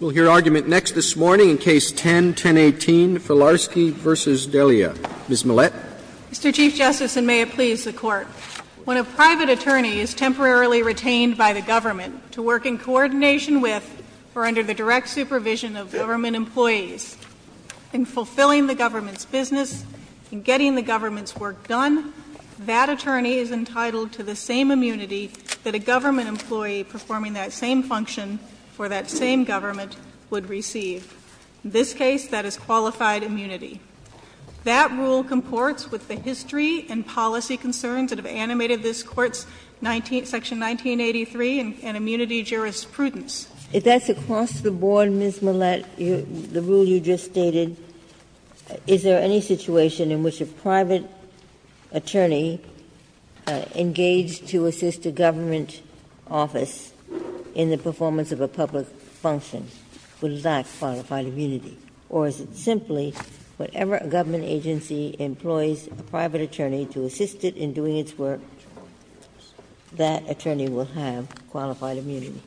We'll hear argument next this morning in Case 10-1018, Filarsky v. Delia. Ms. Millett. Mr. Chief Justice, and may it please the Court, when a private attorney is temporarily retained by the government to work in coordination with or under the direct supervision of government employees in fulfilling the government's business and getting the government's work done, that attorney is entitled to the same function for that same government would receive. In this case, that is qualified immunity. That rule comports with the history and policy concerns that have animated this Court's section 1983 and immunity jurisprudence. If that's across the board, Ms. Millett, the rule you just stated, is there any situation in which a private attorney engaged to assist a government office in the performance of a public function would lack qualified immunity? Or is it simply, whatever government agency employs a private attorney to assist it in doing its work, that attorney will have qualified immunity?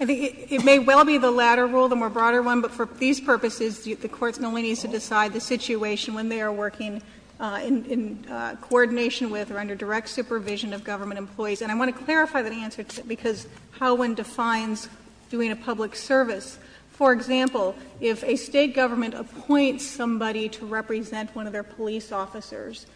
I think it may well be the latter rule, the more broader one, but for these purposes, the Court only needs to decide the situation when they are working in coordination with or under direct supervision of government employees. And I want to clarify that answer because Howen defines doing a public service. For example, if a State government appoints somebody to represent one of their police officers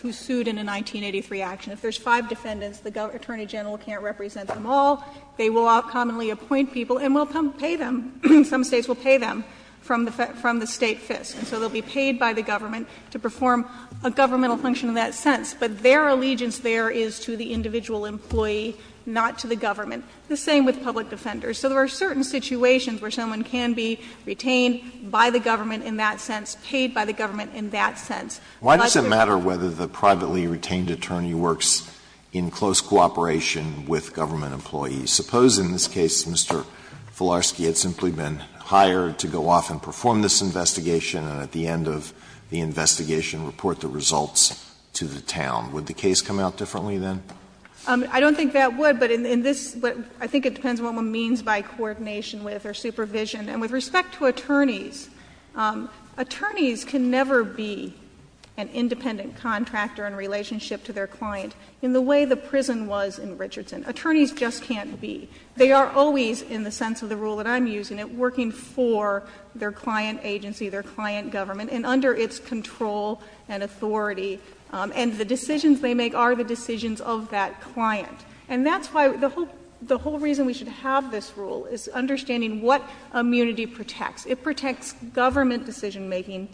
who sued in a 1983 action, if there's five defendants, the Attorney General can't represent them all, they will outcommonly appoint people and will pay them. Some States will pay them from the State FISC, and so they will be paid by the government to perform a governmental function in that sense. But their allegiance there is to the individual employee, not to the government. The same with public defenders. So there are certain situations where someone can be retained by the government in that sense, paid by the government in that sense. Alito, why does it matter whether the privately retained attorney works in close cooperation with government employees? Suppose in this case Mr. Filarski had simply been hired to go off and perform this investigation and at the end of the investigation report the results to the town. Would the case come out differently, then? I don't think that would, but in this, I think it depends on what one means by coordination with or supervision. And with respect to attorneys, attorneys can never be an independent contractor in relationship to their client in the way the prison was in Richardson. Attorneys just can't be. They are always, in the sense of the rule that I'm using, working for their client agency, their client government, and under its control and authority. And the decisions they make are the decisions of that client. And that's why the whole reason we should have this rule is understanding what immunity protects. It protects government decision making,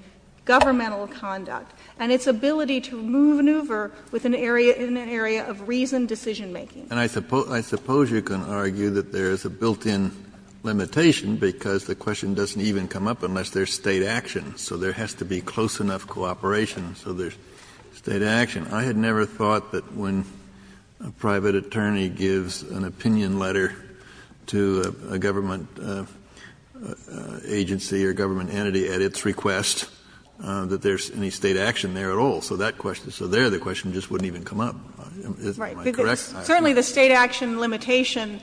governmental conduct, and its ability to maneuver within an area of reasoned decision making. And I suppose you can argue that there is a built-in limitation because the question doesn't even come up unless there's State action. So there has to be close enough cooperation so there's State action. I had never thought that when a private attorney gives an opinion letter to a government agency or government entity at its request that there's any State action there at all. So that question, so there the question just wouldn't even come up. Am I correct? Certainly the State action limitation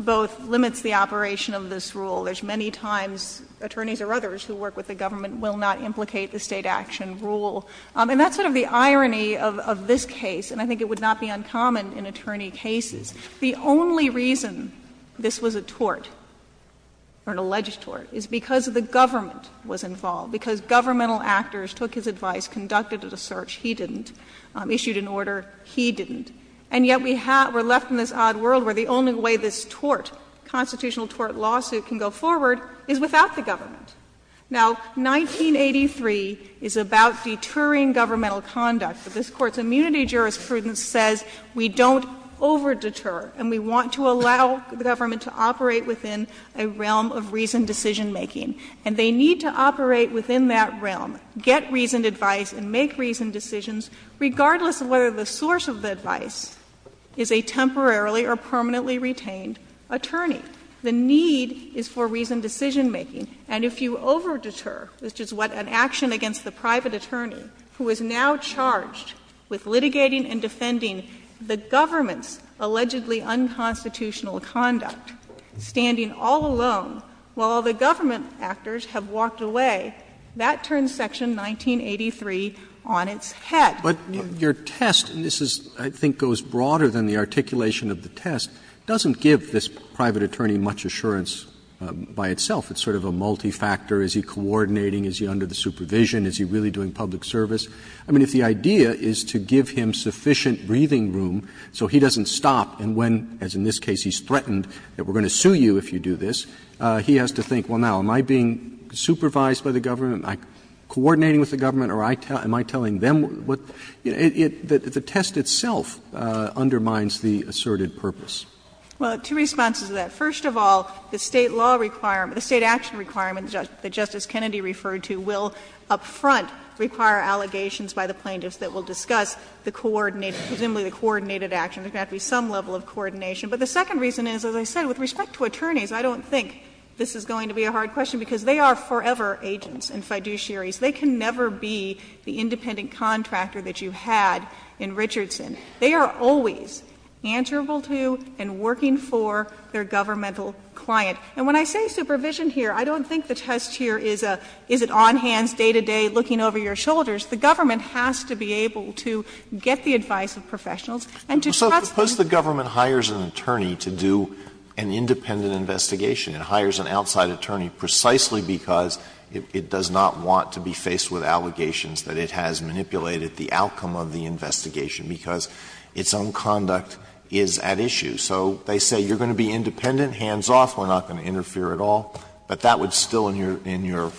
both limits the operation of this rule. There's many times attorneys or others who work with the government will not implicate the State action rule. And that's sort of the irony of this case, and I think it would not be uncommon in attorney cases. The only reason this was a tort, or an alleged tort, is because the government was involved, because governmental actors took his advice, conducted a search. He didn't. Issued an order. He didn't. And yet we have, we're left in this odd world where the only way this tort, constitutional tort lawsuit can go forward is without the government. Now, 1983 is about deterring governmental conduct. But this Court's immunity jurisprudence says we don't over-deter and we want to allow the government to operate within a realm of reasoned decision-making. And they need to operate within that realm, get reasoned advice and make reasoned decisions, regardless of whether the source of the advice is a temporarily or permanently retained attorney. The need is for reasoned decision-making. And if you over-deter, which is what an action against the private attorney, who is now charged with litigating and defending the government's allegedly unconstitutional conduct, standing all alone while the government actors have walked away, that turns Section 1983 on its head. Roberts. But your test, and this is, I think, goes broader than the articulation of the test, doesn't give this private attorney much assurance by itself. It's sort of a multi-factor. Is he coordinating? Is he under the supervision? Is he really doing public service? I mean, if the idea is to give him sufficient breathing room so he doesn't stop, and when, as in this case, he's threatened, that we're going to sue you if you do this, he has to think, well, now, am I being supervised by the government? Am I coordinating with the government, or am I telling them what the test itself undermines the asserted purpose? Well, two responses to that. First of all, the State law requirement, the State action requirement that Justice Kennedy referred to, will up front require allegations by the plaintiffs that will discuss the coordinated, presumably the coordinated action. There's got to be some level of coordination. But the second reason is, as I said, with respect to attorneys, I don't think this is going to be a hard question, because they are forever agents. And fiduciaries, they can never be the independent contractor that you had in Richardson. They are always answerable to and working for their governmental client. And when I say supervision here, I don't think the test here is a, is it on hands, day to day, looking over your shoulders. The government has to be able to get the advice of professionals and to trust them. Alito, suppose the government hires an attorney to do an independent investigation and hires an outside attorney precisely because it does not want to be faced with allegations that it has manipulated the outcome of the investigation, because its own conduct is at issue. So they say, you're going to be independent, hands off, we're not going to interfere at all. But that would still, in your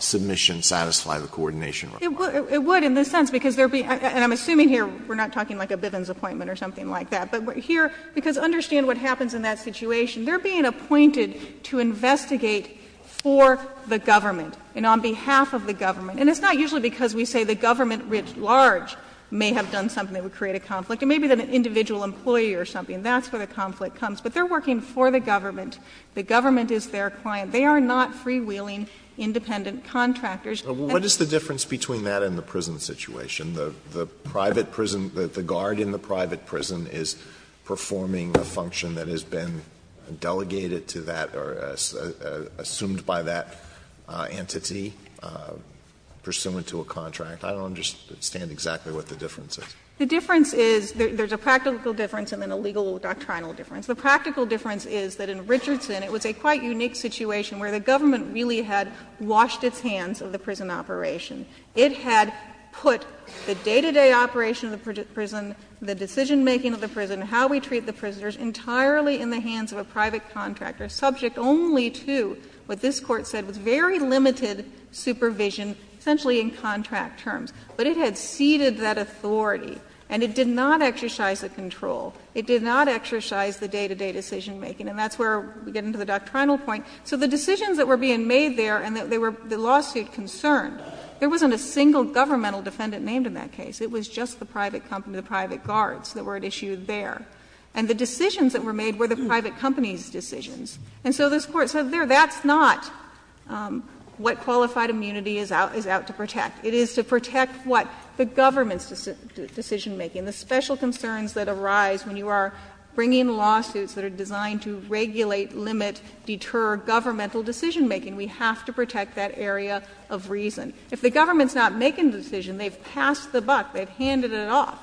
submission, satisfy the coordination requirement. It would, in the sense, because there would be, and I'm assuming here we're not talking like a Bivens appointment or something like that. But here, because understand what happens in that situation. They're being appointed to investigate for the government and on behalf of the government. And it's not usually because we say the government writ large may have done something that would create a conflict. It may be that an individual employee or something. That's where the conflict comes. But they're working for the government. The government is their client. And that's the reason why they're not freewheeling independent contractors. Alito, what is the difference between that and the prison situation? The private prison, the guard in the private prison is performing a function that has been delegated to that or assumed by that entity, pursuant to a contract. I don't understand exactly what the difference is. The difference is, there's a practical difference and then a legal doctrinal difference. The practical difference is that in Richardson, it was a quite unique situation where the government really had washed its hands of the prison operation. It had put the day-to-day operation of the prison, the decisionmaking of the prison, how we treat the prisoners, entirely in the hands of a private contractor, subject only to what this Court said was very limited supervision, essentially in contract terms. But it had ceded that authority, and it did not exercise the control. It did not exercise the day-to-day decisionmaking. And that's where we get into the doctrinal point. So the decisions that were being made there and the lawsuit concerned, there wasn't a single governmental defendant named in that case. It was just the private company, the private guards that were at issue there. And the decisions that were made were the private company's decisions. And so this Court said there, that's not what qualified immunity is out to protect. It is to protect what? The government's decisionmaking, the special concerns that arise when you are bringing lawsuits that are designed to regulate, limit, deter governmental decisionmaking. We have to protect that area of reason. If the government's not making the decision, they've passed the buck, they've handed it off.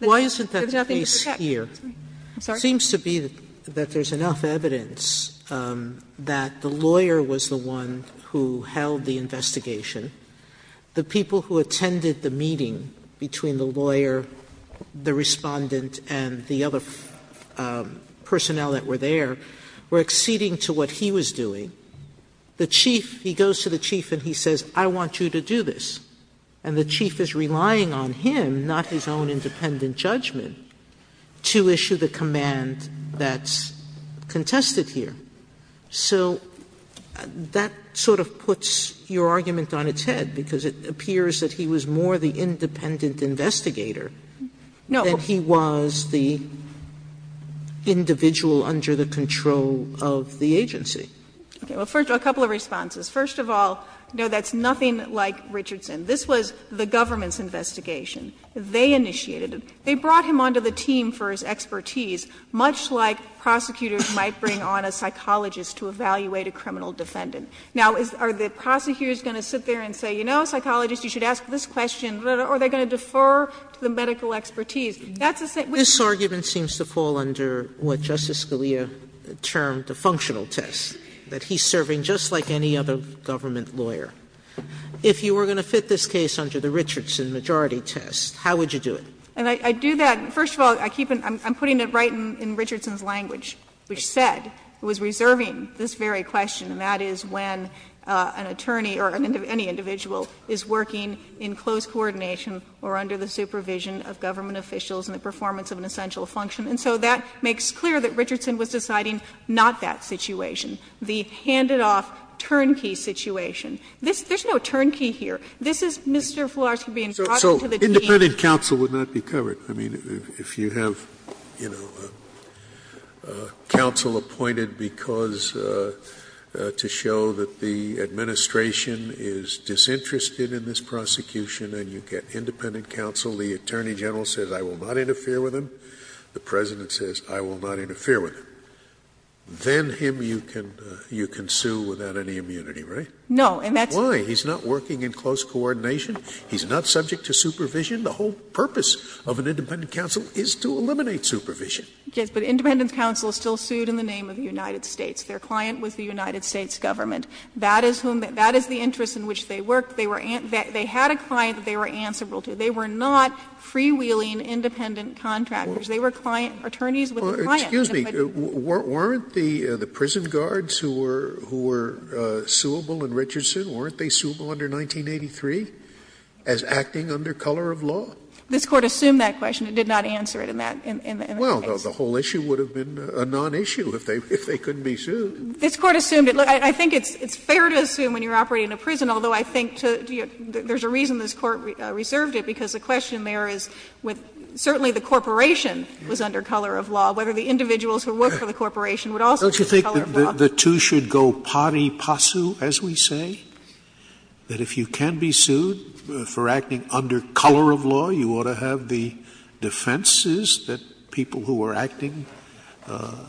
There's nothing to protect. Sotomayor, I'm sorry. Sotomayor, it seems to be that there's enough evidence that the lawyer was the one who held the investigation. The people who attended the meeting between the lawyer, the Respondent, and the other personnel that were there were acceding to what he was doing. The Chief, he goes to the Chief and he says, I want you to do this. And the Chief is relying on him, not his own independent judgment, to issue the command that's contested here. So that sort of puts your argument on its head, because it appears that he was more the independent investigator than he was the individual under the control of the agency. Okay. Well, first, a couple of responses. First of all, no, that's nothing like Richardson. This was the government's investigation. They initiated it. They brought him onto the team for his expertise, much like prosecutors might bring on a psychologist to evaluate a criminal defendant. Now, are the prosecutors going to sit there and say, you know, psychologist, you should ask this question, or are they going to defer to the medical expertise? That's the same thing. Sotomayor, this argument seems to fall under what Justice Scalia termed a functional test, that he's serving just like any other government lawyer. If you were going to fit this case under the Richardson majority test, how would you do it? And I do that, first of all, I keep in my mind, I'm putting it right in Richardson's language, which said, it was reserving this very question, and that is when an attorney or any individual is working in close coordination or under the supervision of government officials in the performance of an essential function. And so that makes clear that Richardson was deciding not that situation, the handed off turnkey situation. This — there's no turnkey here. This is Mr. Floreski being brought into the team. Scalia, independent counsel would not be covered. I mean, if you have, you know, counsel appointed because — to show that the administration is disinterested in this prosecution and you get independent counsel, the attorney general says, I will not interfere with him, the President says, I will not interfere with him, then him you can sue without any immunity, right? No, and that's why he's not working in close coordination. He's not subject to supervision. The whole purpose of an independent counsel is to eliminate supervision. Yes, but independent counsel is still sued in the name of the United States. Their client was the United States government. That is whom — that is the interest in which they worked. They were — they had a client that they were answerable to. They were not freewheeling independent contractors. They were client attorneys with a client. Scalia, weren't the prison guards who were suable in Richardson, weren't they suable under 1983 as acting under color of law? This Court assumed that question. It did not answer it in that case. Well, the whole issue would have been a non-issue if they couldn't be sued. This Court assumed it. Look, I think it's fair to assume when you're operating in a prison, although I think to — there's a reason this Court reserved it, because the question there is with — certainly the corporation was under color of law, whether the individuals who worked for the corporation would also be under color of law. Don't you think the two should go pari passu, as we say, that if you can be sued for acting under color of law, you ought to have the defenses that people who are acting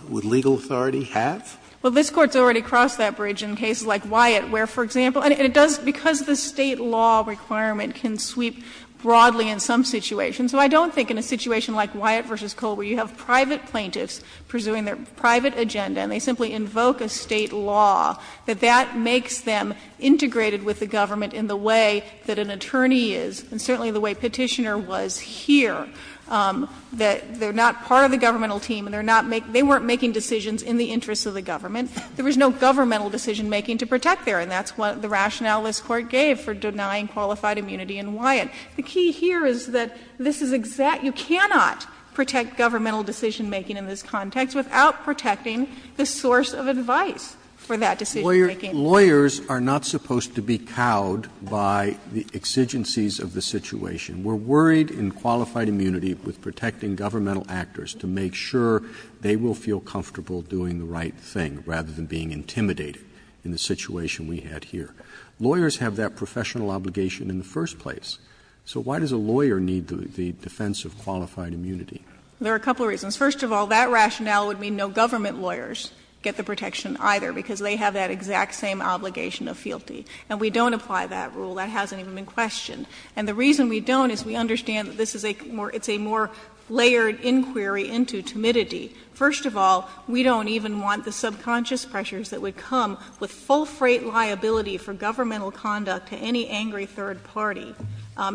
with legal authority have? Well, this Court's already crossed that bridge in cases like Wyatt, where, for example — and it does, because the State law requirement can sweep broadly in some situations. So I don't think in a situation like Wyatt v. Cole, where you have private plaintiffs pursuing their private agenda, and they simply invoke a State law, that that makes them integrated with the government in the way that an attorney is, and certainly the way Petitioner was here, that they're not part of the governmental team and they weren't making decisions in the interest of the government. There was no governmental decisionmaking to protect there, and that's what the rationale this Court gave for denying qualified immunity in Wyatt. The key here is that this is exact — you cannot protect governmental decisionmaking in this context without protecting the source of advice for that decisionmaking. Roberts. Lawyers are not supposed to be cowed by the exigencies of the situation. We're worried in qualified immunity with protecting governmental actors to make sure they will feel comfortable doing the right thing, rather than being intimidated in the situation we had here. Lawyers have that professional obligation in the first place. So why does a lawyer need the defense of qualified immunity? There are a couple of reasons. First of all, that rationale would mean no government lawyers get the protection either, because they have that exact same obligation of fealty. And we don't apply that rule. That hasn't even been questioned. And the reason we don't is we understand that this is a more — it's a more layered inquiry into timidity. First of all, we don't even want the subconscious pressures that would come with full freight liability for governmental conduct to any angry third party,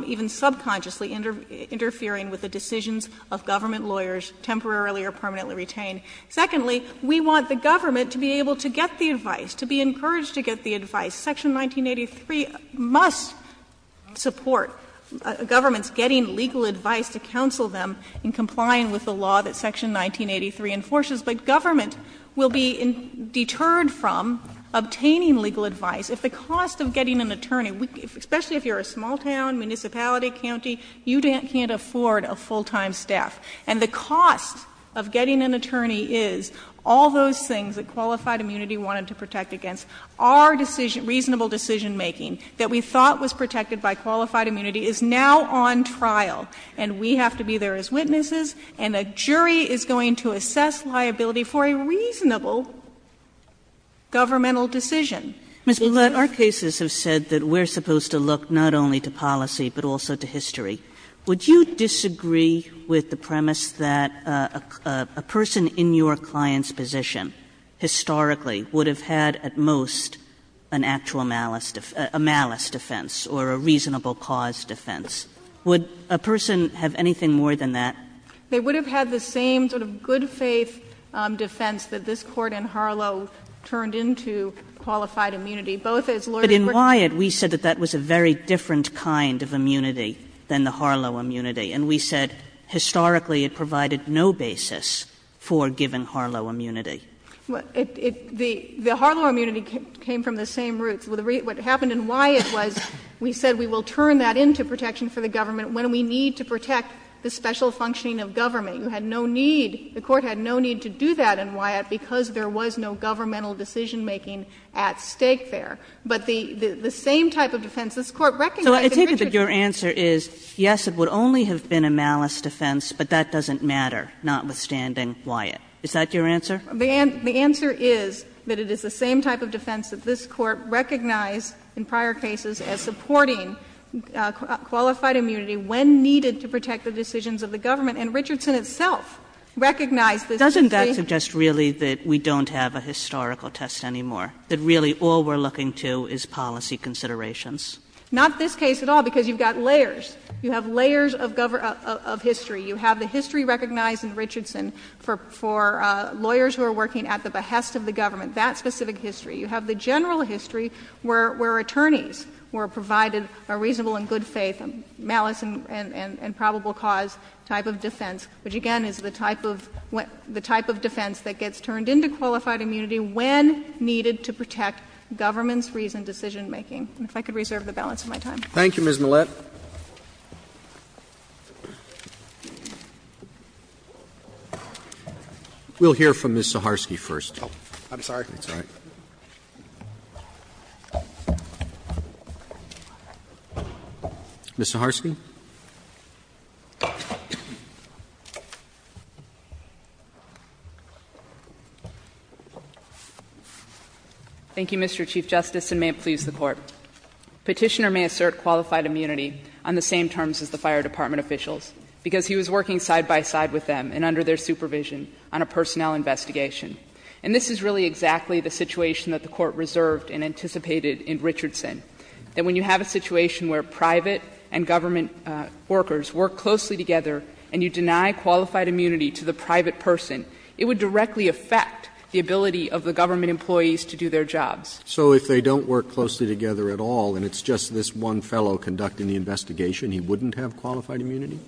even subconsciously interfering with the decisions of government lawyers, temporarily or permanently retained. Secondly, we want the government to be able to get the advice, to be encouraged to get the advice. Section 1983 must support governments getting legal advice to counsel them in complying with the law that Section 1983 enforces. But government will be deterred from obtaining legal advice if the cost of getting an attorney — especially if you're a small town, municipality, county, you can't afford a full-time staff. And the cost of getting an attorney is all those things that qualified immunity wanted to protect against. And a jury is going to assess liability for a reasonable governmental decision. Ms. Blatt, our cases have said that we're supposed to look not only to policy, but also to history. Would you disagree with the premise that a person in your client's position, historically, would have had at most an actual malice — a malice defense or a reasonable cause defense? Would a person have anything more than that? They would have had the same sort of good-faith defense that this Court in Harlow turned into qualified immunity, both as lawyers were — But in Wyatt, we said that that was a very different kind of immunity than the Harlow immunity. And we said, historically, it provided no basis for giving Harlow immunity. Well, it — the Harlow immunity came from the same roots. What happened in Wyatt was we said we will turn that into protection for the government when we need to protect the special functioning of government. You had no need — the Court had no need to do that in Wyatt because there was no governmental decisionmaking at stake there. But the same type of defense this Court recognized in Richard's case — So I take it that your answer is, yes, it would only have been a malice defense, but that doesn't matter, notwithstanding Wyatt. Is that your answer? The answer is that it is the same type of defense that this Court recognized in prior cases as supporting qualified immunity when needed to protect the decisions of the government, and Richardson itself recognized this — Doesn't that suggest really that we don't have a historical test anymore, that really all we're looking to is policy considerations? Not this case at all, because you've got layers. You have layers of history. You have the history recognized in Richardson for lawyers who are working at the behest of the government, that specific history. You have the general history where attorneys were provided a reasonable and good-faith malice and probable cause type of defense, which again is the type of defense that gets turned into qualified immunity when needed to protect government's reasoned decisionmaking. And if I could reserve the balance of my time. Thank you, Ms. Millett. We'll hear from Ms. Saharsky first. I'm sorry. That's all right. Ms. Saharsky. Thank you, Mr. Chief Justice, and may it please the Court. Petitioner may assert qualified immunity on the same terms as the fire department officials, because he was working side by side with them and under their supervision on a personnel investigation. And this is really exactly the situation that the Court reserved and anticipated in Richardson, that when you have a situation where private and government workers work closely together and you deny qualified immunity to the private person, it would directly affect the ability of the government employees to do their jobs. So if they don't work closely together at all, and it's just this one fellow conducting the investigation, he wouldn't have qualified immunity?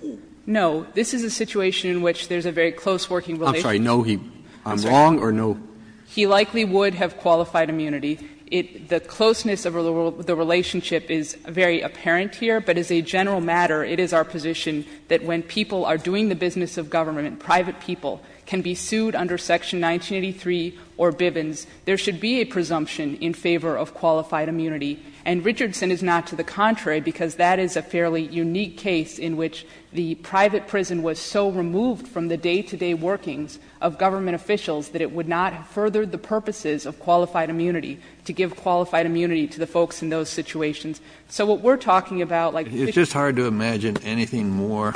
No. This is a situation in which there's a very close working relationship. I'm sorry, no, I'm wrong, or no? He likely would have qualified immunity. The closeness of the relationship is very apparent here, but as a general matter, it is our position that when people are doing the business of government, private people can be sued under Section 1983 or Bivens, there should be a presumption in favor of qualified immunity. And Richardson is not to the contrary, because that is a fairly unique case in which the private prison was so removed from the day-to-day workings of government officials that it would not have furthered the purposes of qualified immunity, to give qualified immunity to the folks in those situations. So what we're talking about, like... It's just hard to imagine anything more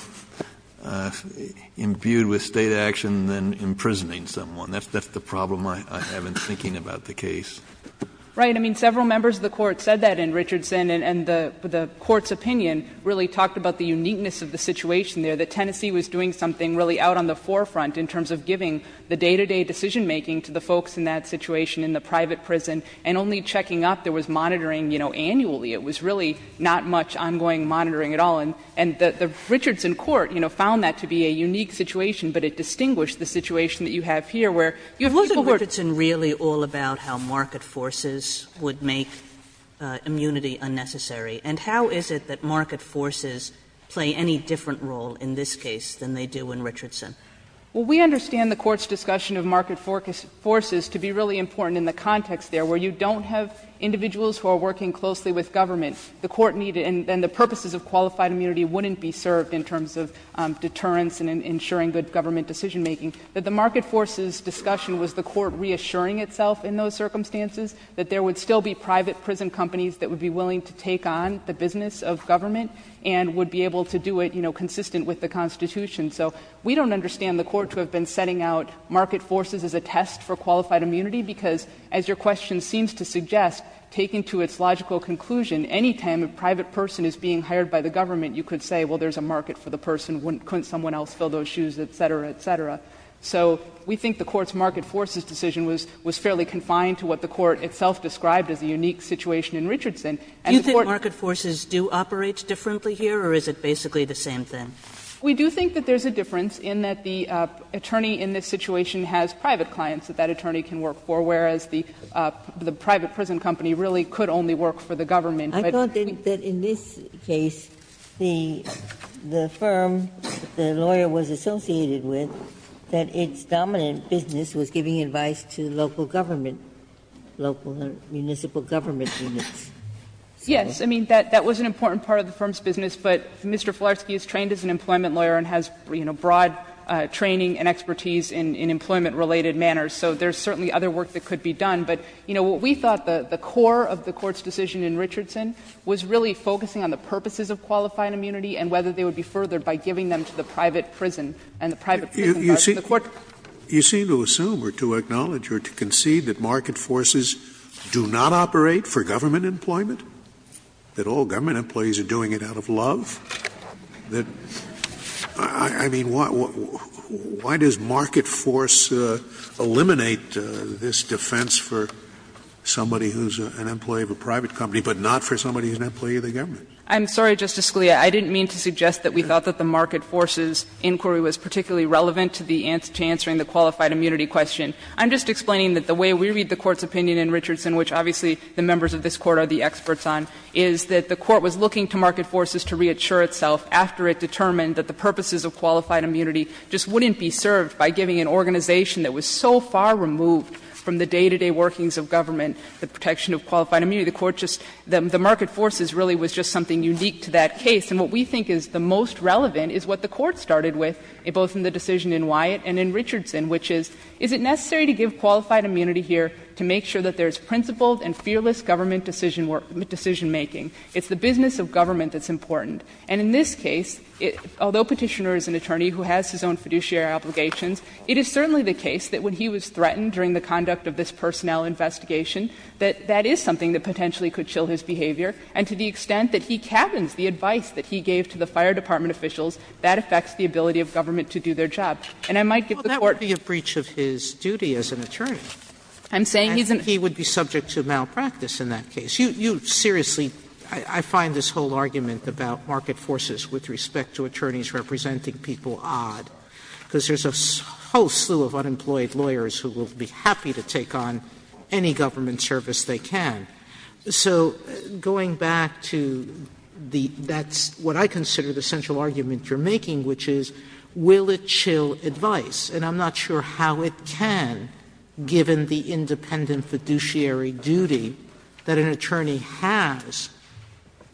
imbued with state action than imprisoning someone. That's the problem I have in thinking about the case. Right. I mean, several members of the Court said that in Richardson, and the Court's opinion really talked about the uniqueness of the situation there, that Tennessee was doing something really out on the forefront in terms of giving the day-to-day decision-making to the folks in that situation in the private prison, and only checking up. There was monitoring, you know, annually. It was really not much ongoing monitoring at all. And the Richardson court, you know, found that to be a unique situation, but it distinguished the situation that you have here, where you have lots of work... Kagan Isn't Richardson really all about how market forces would make immunity unnecessary? And how is it that market forces play any different role in this case than they do in Richardson? Well, we understand the Court's discussion of market forces to be really important in the context there, where you don't have individuals who are working closely with government. The Court needed — and the purposes of qualified immunity wouldn't be served in terms of deterrence and ensuring good government decision-making — that the market forces discussion was the Court reassuring itself in those circumstances, that there would still be private prison companies that would be willing to take on the business of government, and would be able to do it, you know, consistent with the Constitution. So we don't understand the Court to have been setting out market forces as a test for qualified immunity, because, as your question seems to suggest, taken to its logical conclusion, any time a private person is being hired by the government, you could say, well, there's a market for the person, couldn't someone else fill those shoes, et cetera, et cetera. So we think the Court's market forces decision was fairly confined to what the Court itself described as a unique situation in Richardson. And the Court— Do you think market forces do operate differently here, or is it basically the same thing? We do think that there's a difference in that the attorney in this situation has private clients that that attorney can work for, whereas the private prison company really could only work for the government. Ginsburg. I don't think that in this case the firm the lawyer was associated with, that its dominant business was giving advice to local government, local municipal government units. Yes. I mean, that was an important part of the firm's business, but Mr. Filarski is trained as an employment lawyer and has, you know, broad training and expertise in employment related manners. So there's certainly other work that could be done. But, you know, what we thought the core of the Court's decision in Richardson was really focusing on the purposes of qualifying immunity and whether they would be furthered by giving them to the private prison. And the private prison part of the Court— You seem to assume or to acknowledge or to concede that market forces do not operate for government employment, that all government employees are doing it out of love? I mean, why does market force eliminate this defense for somebody who's an employee of a private company but not for somebody who's an employee of the government? I'm sorry, Justice Scalia. I didn't mean to suggest that we thought that the market forces inquiry was particularly relevant to the answer to answering the qualified immunity question. I'm just explaining that the way we read the Court's opinion in Richardson, which obviously the members of this Court are the experts on, is that the Court was looking to market forces to reassure itself after it determined that the purposes of qualified immunity just wouldn't be served by giving an organization that was so far removed from the day-to-day workings of government the protection of qualified immunity. The Court just — the market forces really was just something unique to that case. And what we think is the most relevant is what the Court started with, both in the decision in Wyatt and in Richardson, which is, is it necessary to give qualified immunity here to make sure that there's principled and fearless government decisionmaking? It's the business of government that's important. And in this case, although Petitioner is an attorney who has his own fiduciary obligations, it is certainly the case that when he was threatened during the conduct of this personnel investigation, that that is something that potentially could chill his behavior, and to the extent that he cabins the advice that he gave to the fire department officials, that affects the ability of government to do their job. And I might give the Court the opportunity to do that. Sotomayore, that would be a breach of his duty as an attorney. I'm saying he's an attorney. And he would be subject to malpractice in that case. You seriously, I find this whole argument about market forces with respect to attorneys representing people odd, because there's a whole slew of unemployed lawyers who will be happy to take on any government service they can. So going back to the, that's what I consider the central argument you're making, which is, will it chill advice? And I'm not sure how it can, given the independent fiduciary duty that an attorney has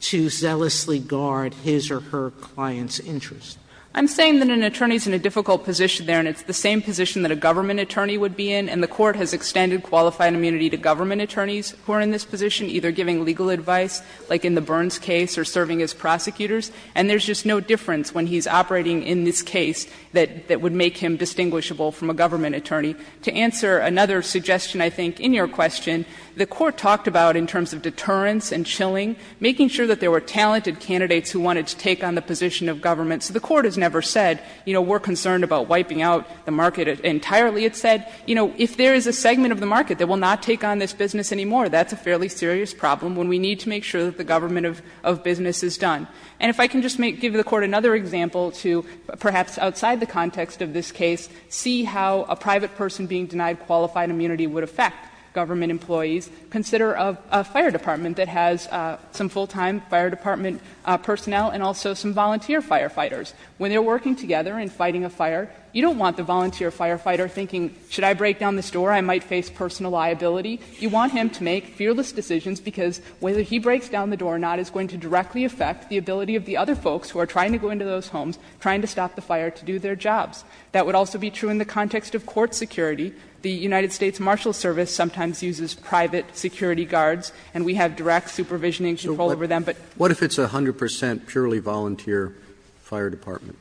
to zealously guard his or her client's interest. I'm saying that an attorney's in a difficult position there, and it's the same position that a government attorney would be in, and the Court has extended qualified immunity to government attorneys who are in this position, either giving legal advice, like in the Burns case, or serving as prosecutors. And there's just no difference when he's operating in this case that would make him distinguishable from a government attorney. To answer another suggestion, I think, in your question, the Court talked about, in terms of deterrence and chilling, making sure that there were talented candidates who wanted to take on the position of government. So the Court has never said, you know, we're concerned about wiping out the market entirely. It said, you know, if there is a segment of the market that will not take on this business anymore, that's a fairly serious problem when we need to make sure that the government of business is done. And if I can just give the Court another example to, perhaps outside the context of this case, see how a private person being denied qualified immunity would affect government employees. Consider a fire department that has some full-time fire department personnel, and also some volunteer firefighters. When they're working together and fighting a fire, you don't want the volunteer firefighter thinking, should I break down this door? I might face personal liability. You want him to make fearless decisions, because whether he breaks down the door or not is going to directly affect the ability of the other folks who are trying to go into those homes, trying to stop the fire to do their jobs. That would also be true in the context of court security. The United States Marshal Service sometimes uses private security guards, and we have direct supervision and control over them, but. Roberts, what if it's a 100 percent purely volunteer fire department?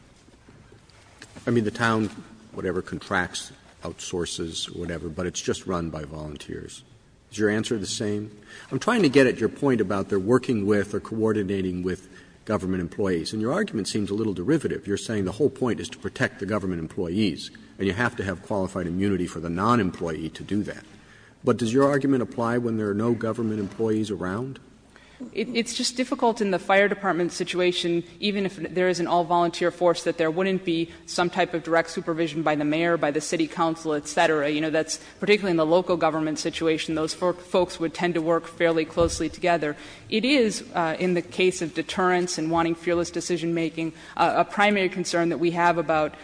I mean, the town, whatever, contracts, outsources, whatever, but it's just run by volunteers. Is your answer the same? I'm trying to get at your point about they're working with or coordinating with government employees. And your argument seems a little derivative. You're saying the whole point is to protect the government employees, and you have to have qualified immunity for the non-employee to do that. But does your argument apply when there are no government employees around? It's just difficult in the fire department situation, even if there is an all-volunteer force, that there wouldn't be some type of direct supervision by the mayor, by the city council, et cetera. You know, that's particularly in the local government situation. Those folks would tend to work fairly closely together. It is, in the case of deterrence and wanting fearless decision-making, a primary concern that we have about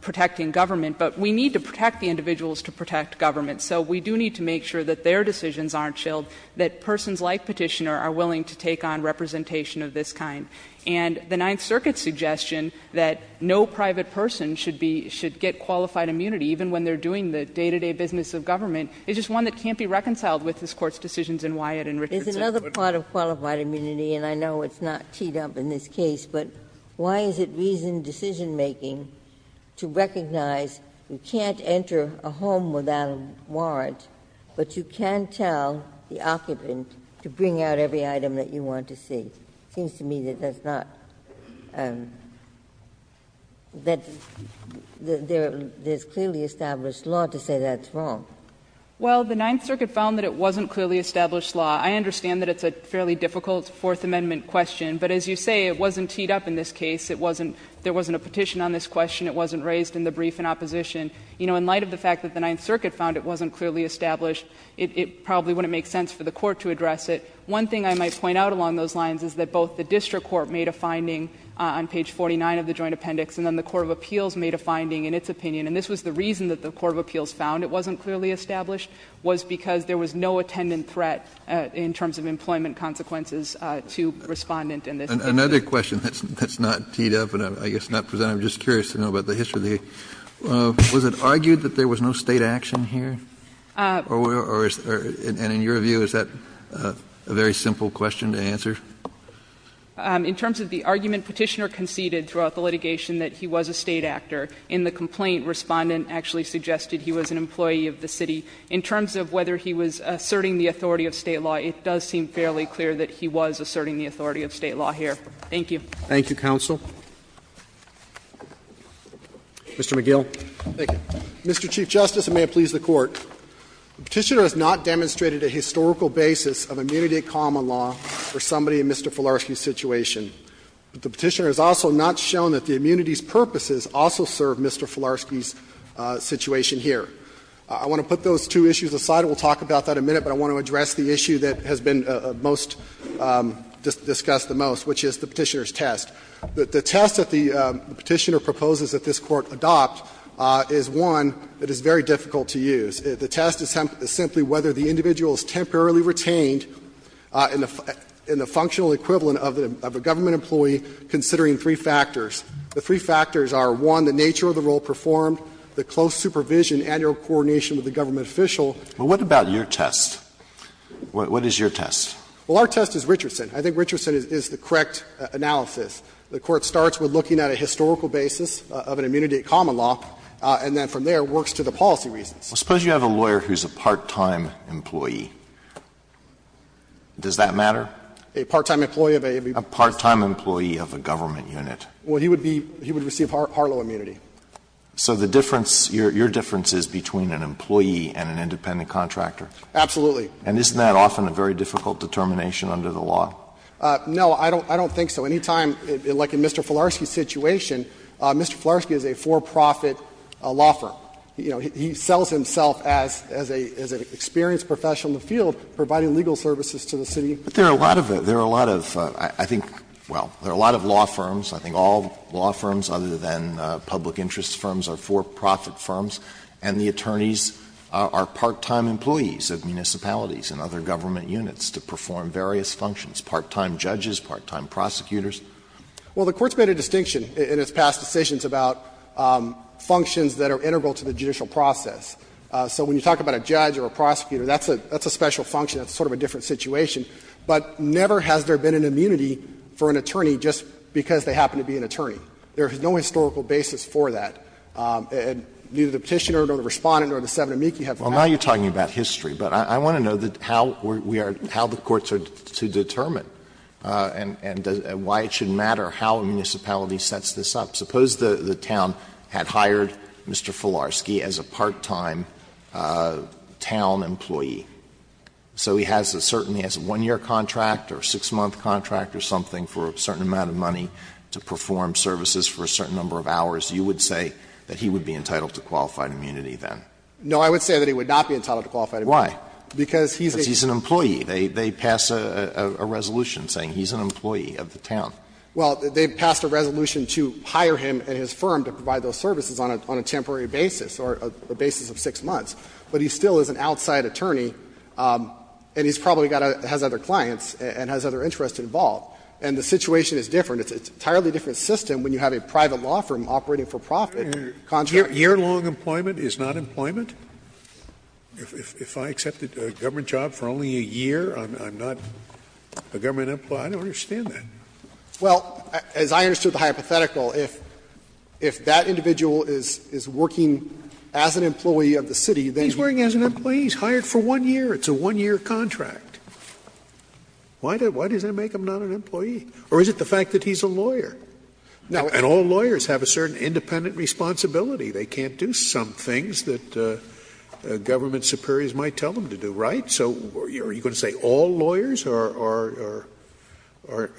protecting government. But we need to protect the individuals to protect government. So we do need to make sure that their decisions aren't shilled, that persons like Petitioner are willing to take on representation of this kind. And the Ninth Circuit's suggestion that no private person should be — should get qualified immunity, even when they're doing the day-to-day business of government, is just one that can't be reconciled with this Court's decisions in Wyatt and Richardson. Ginsburg. There's another part of qualified immunity, and I know it's not teed up in this case, but why is it reasoned decision-making to recognize you can't enter a home without a warrant, but you can tell the occupant to bring out every item that you want to see? It seems to me that that's not — that there's clearly established law to say that's wrong. Well, the Ninth Circuit found that it wasn't clearly established law. I understand that it's a fairly difficult Fourth Amendment question, but as you say, it wasn't teed up in this case. It wasn't — there wasn't a petition on this question. It wasn't raised in the brief in opposition. You know, in light of the fact that the Ninth Circuit found it wasn't clearly established, it probably wouldn't make sense for the Court to address it. One thing I might point out along those lines is that both the district court made a finding on page 49 of the joint appendix, and then the Court of Appeals made a finding in its opinion. And this was the reason that the Court of Appeals found it wasn't clearly established, was because there was no attendant threat in terms of employment consequences to Respondent in this case. Another question that's not teed up and I guess not presented. I'm just curious to know about the history of the — was it argued that there was no State action here, or is — and in your view, is that a very simple question to answer? In terms of the argument, Petitioner conceded throughout the litigation that he was a State actor. In the complaint, Respondent actually suggested he was an employee of the city. In terms of whether he was asserting the authority of State law, it does seem fairly clear that he was asserting the authority of State law here. Thank you. Thank you, counsel. Mr. McGill. Thank you. Mr. Chief Justice, and may it please the Court, the Petitioner has not demonstrated a historical basis of immunity of common law for somebody in Mr. Filarski's situation. The Petitioner has also not shown that the immunity's purposes also serve Mr. Filarski's situation here. I want to put those two issues aside. We'll talk about that in a minute, but I want to address the issue that has been most discussed the most, which is the Petitioner's test. The test that the Petitioner proposes that this Court adopt is one that is very difficult to use. The test is simply whether the individual is temporarily retained in the functional equivalent of a government employee, considering three factors. The three factors are, one, the nature of the role performed, the close supervision and your coordination with the government official. But what about your test? What is your test? Well, our test is Richardson. I think Richardson is the correct analysis. The Court starts with looking at a historical basis of an immunity of common law, and then from there works to the policy reasons. Suppose you have a lawyer who is a part-time employee. Does that matter? A part-time employee of a government unit. Well, he would be he would receive Harlow immunity. So the difference, your difference is between an employee and an independent contractor? Absolutely. And isn't that often a very difficult determination under the law? No, I don't think so. Any time, like in Mr. Fularski's situation, Mr. Fularski is a for-profit law firm. You know, he sells himself as an experienced professional in the field, providing legal services to the city. But there are a lot of, there are a lot of, I think, well, there are a lot of law firms, I think all law firms other than public interest firms are for-profit firms, and the attorneys are part-time employees of municipalities and other government units to perform various functions, part-time judges, part-time prosecutors. Well, the Court's made a distinction in its past decisions about functions that are integral to the judicial process. So when you talk about a judge or a prosecutor, that's a special function. That's sort of a different situation. But never has there been an immunity for an attorney just because they happen to be an attorney. There is no historical basis for that. And neither the Petitioner nor the Respondent nor the Seven-and-Meekie have that. Well, now you're talking about history, but I want to know how we are, how the courts are to determine and why it should matter how a municipality sets this up. Suppose the town had hired Mr. Fularski as a part-time town employee. So he has a certain one-year contract or six-month contract or something for a certain amount of money to perform services for a certain number of hours. You would say that he would be entitled to qualified immunity, then? No, I would say that he would not be entitled to qualified immunity. Why? Because he's a employee. They pass a resolution saying he's an employee of the town. Well, they passed a resolution to hire him and his firm to provide those services on a temporary basis or a basis of six months. But he still is an outside attorney, and he's probably got to has other clients and has other interests involved. And the situation is different. It's an entirely different system when you have a private law firm operating for profit, contract. Yearlong employment is not employment? If I accepted a government job for only a year, I'm not a government employee? I don't understand that. Well, as I understood the hypothetical, if that individual is working as an employee of the city, then he's working as an employee, he's hired for one year, it's a one-year contract. Why does that make him not an employee? Or is it the fact that he's a lawyer? And all lawyers have a certain independent responsibility. They can't do some things that government superiors might tell them to do, right? So are you going to say all lawyers are or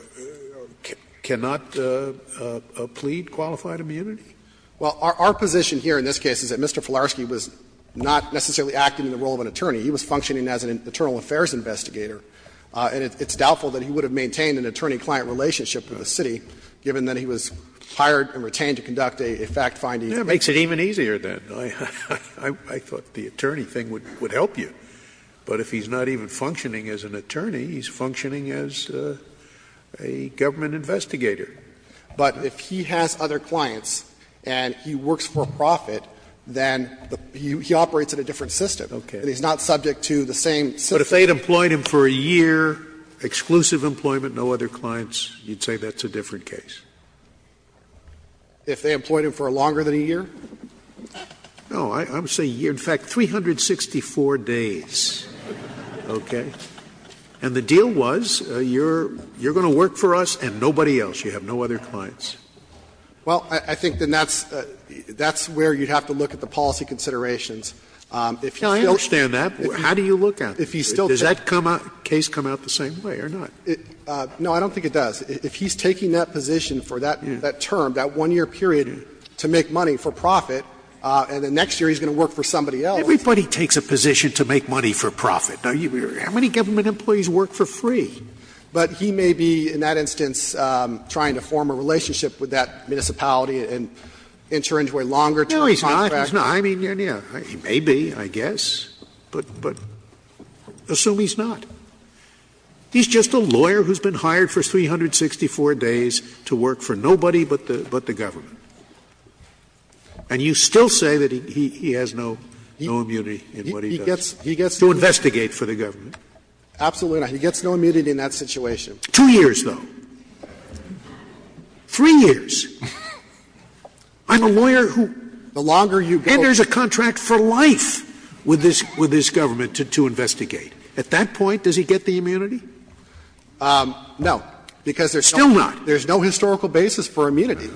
cannot plead qualified immunity? Well, our position here in this case is that Mr. Filarski was not necessarily acting in the role of an attorney. He was functioning as an internal affairs investigator. And it's doubtful that he would have maintained an attorney-client relationship with the city, given that he was hired and retained to conduct a fact-finding case. Scalia Yeah, it makes it even easier then. I thought the attorney thing would help you. But if he's not even functioning as an attorney, he's functioning as a government investigator. But if he has other clients and he works for a profit, then he operates in a different system. And he's not subject to the same system. Scalia But if they had employed him for a year, exclusive employment, no other clients, you'd say that's a different case? If they employed him for longer than a year? Scalia No. I would say in fact 364 days, okay? And the deal was, you're going to work for us and nobody else. You have no other clients. Well, I think then that's where you'd have to look at the policy considerations. If he still Scalia I understand that. How do you look at it? Does that case come out the same way or not? Scalia No, I don't think it does. If he's taking that position for that term, that one-year period to make money for profit, and then next year he's going to work for somebody else. Scalia Everybody takes a position to make money for profit, don't you? How many government employees work for free? But he may be in that instance trying to form a relationship with that municipality and enter into a longer term contract. No, he's not. I mean, he may be, I guess, but assume he's not. He's just a lawyer who's been hired for 364 days to work for nobody but the government. And you still say that he has no immunity in what he does to investigate for the government. Scalia Absolutely not. He gets no immunity in that situation. Scalia Two years, though. Three years. I'm a lawyer who enters a contract for life with this government to investigate. At that point, does he get the immunity? Scalia No, because there's no historical basis for immunity.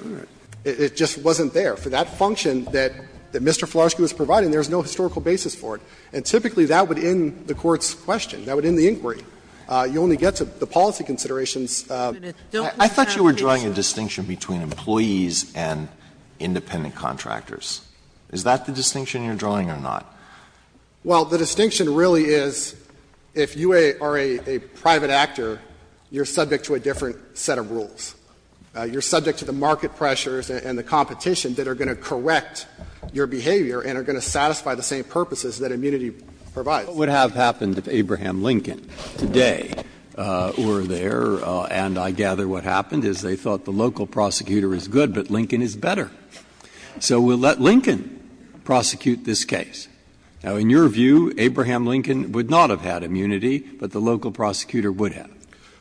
It just wasn't there. For that function that Mr. Flaherty was providing, there's no historical basis for it. And typically that would end the Court's question. That would end the inquiry. You only get to the policy considerations. Sotomayor I thought you were drawing a distinction between employees and independent contractors. Is that the distinction you're drawing or not? Scalia Well, the distinction really is if you are a private actor, you're subject to a different set of rules. You're subject to the market pressures and the competition that are going to correct your behavior and are going to satisfy the same purposes that immunity provides. Breyer What would have happened if Abraham Lincoln today were there, and I gather what happened is they thought the local prosecutor is good, but Lincoln is better. So we'll let Lincoln prosecute this case. Now, in your view, Abraham Lincoln would not have had immunity, but the local prosecutor would have.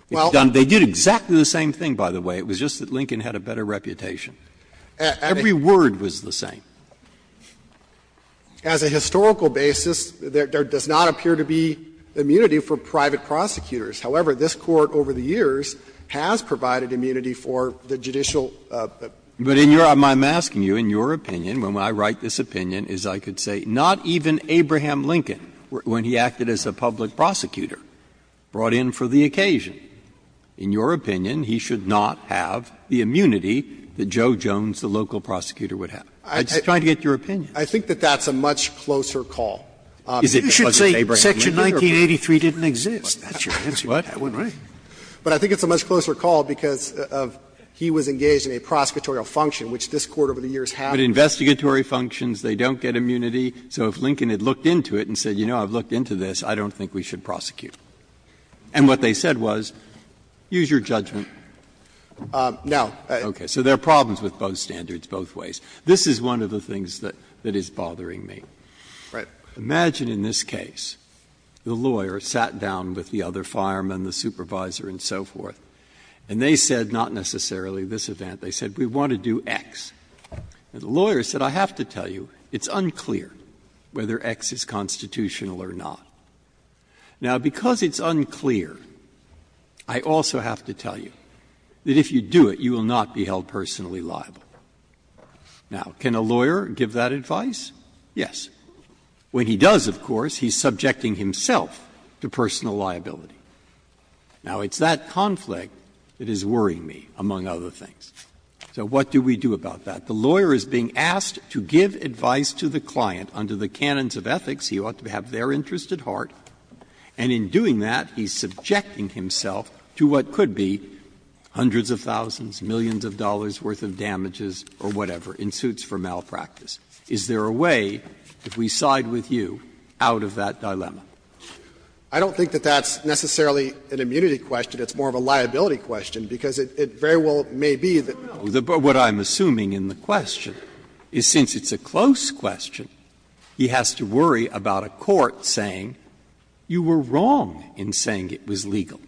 They did exactly the same thing, by the way. It was just that Lincoln had a better reputation. Every word was the same. As a historical basis, there does not appear to be immunity for private prosecutors. However, this Court over the years has provided immunity for the judicial. Breyer But in your opinion, I'm asking you, in your opinion, when I write this opinion, is I could say not even Abraham Lincoln, when he acted as a public prosecutor, brought in for the occasion. In your opinion, he should not have the immunity that Joe Jones, the local prosecutor, would have. I'm just trying to get your opinion. I think that that's a much closer call. Is it because it's Abraham Lincoln? You should say section 1983 didn't exist. That's your answer. That wouldn't be it. But I think it's a much closer call because of he was engaged in a prosecutorial function, which this Court over the years has. But investigatory functions, they don't get immunity, so if Lincoln had looked into it and said, you know, I've looked into this, I don't think we should prosecute. And what they said was, use your judgment. Now, I Okay. So there are problems with both standards, both ways. This is one of the things that is bothering me. Imagine in this case, the lawyer sat down with the other firemen, the supervisor and so forth, and they said, not necessarily this event, they said, we want to do X. And the lawyer said, I have to tell you, it's unclear whether X is constitutional or not. Now, because it's unclear, I also have to tell you that if you do it, you will not be held personally liable. Now, can a lawyer give that advice? Yes. When he does, of course, he's subjecting himself to personal liability. Now, it's that conflict that is worrying me, among other things. So what do we do about that? The lawyer is being asked to give advice to the client under the canons of ethics. He ought to have their interest at heart. And in doing that, he's subjecting himself to what could be hundreds of thousands, millions of dollars' worth of damages or whatever, in suits for malpractice. Is there a way, if we side with you, out of that dilemma? I don't think that that's necessarily an immunity question. It's more of a liability question, because it very well may be that we don't. But what I'm assuming in the question is, since it's a close question, he has to worry about a court saying, you were wrong in saying it was legal.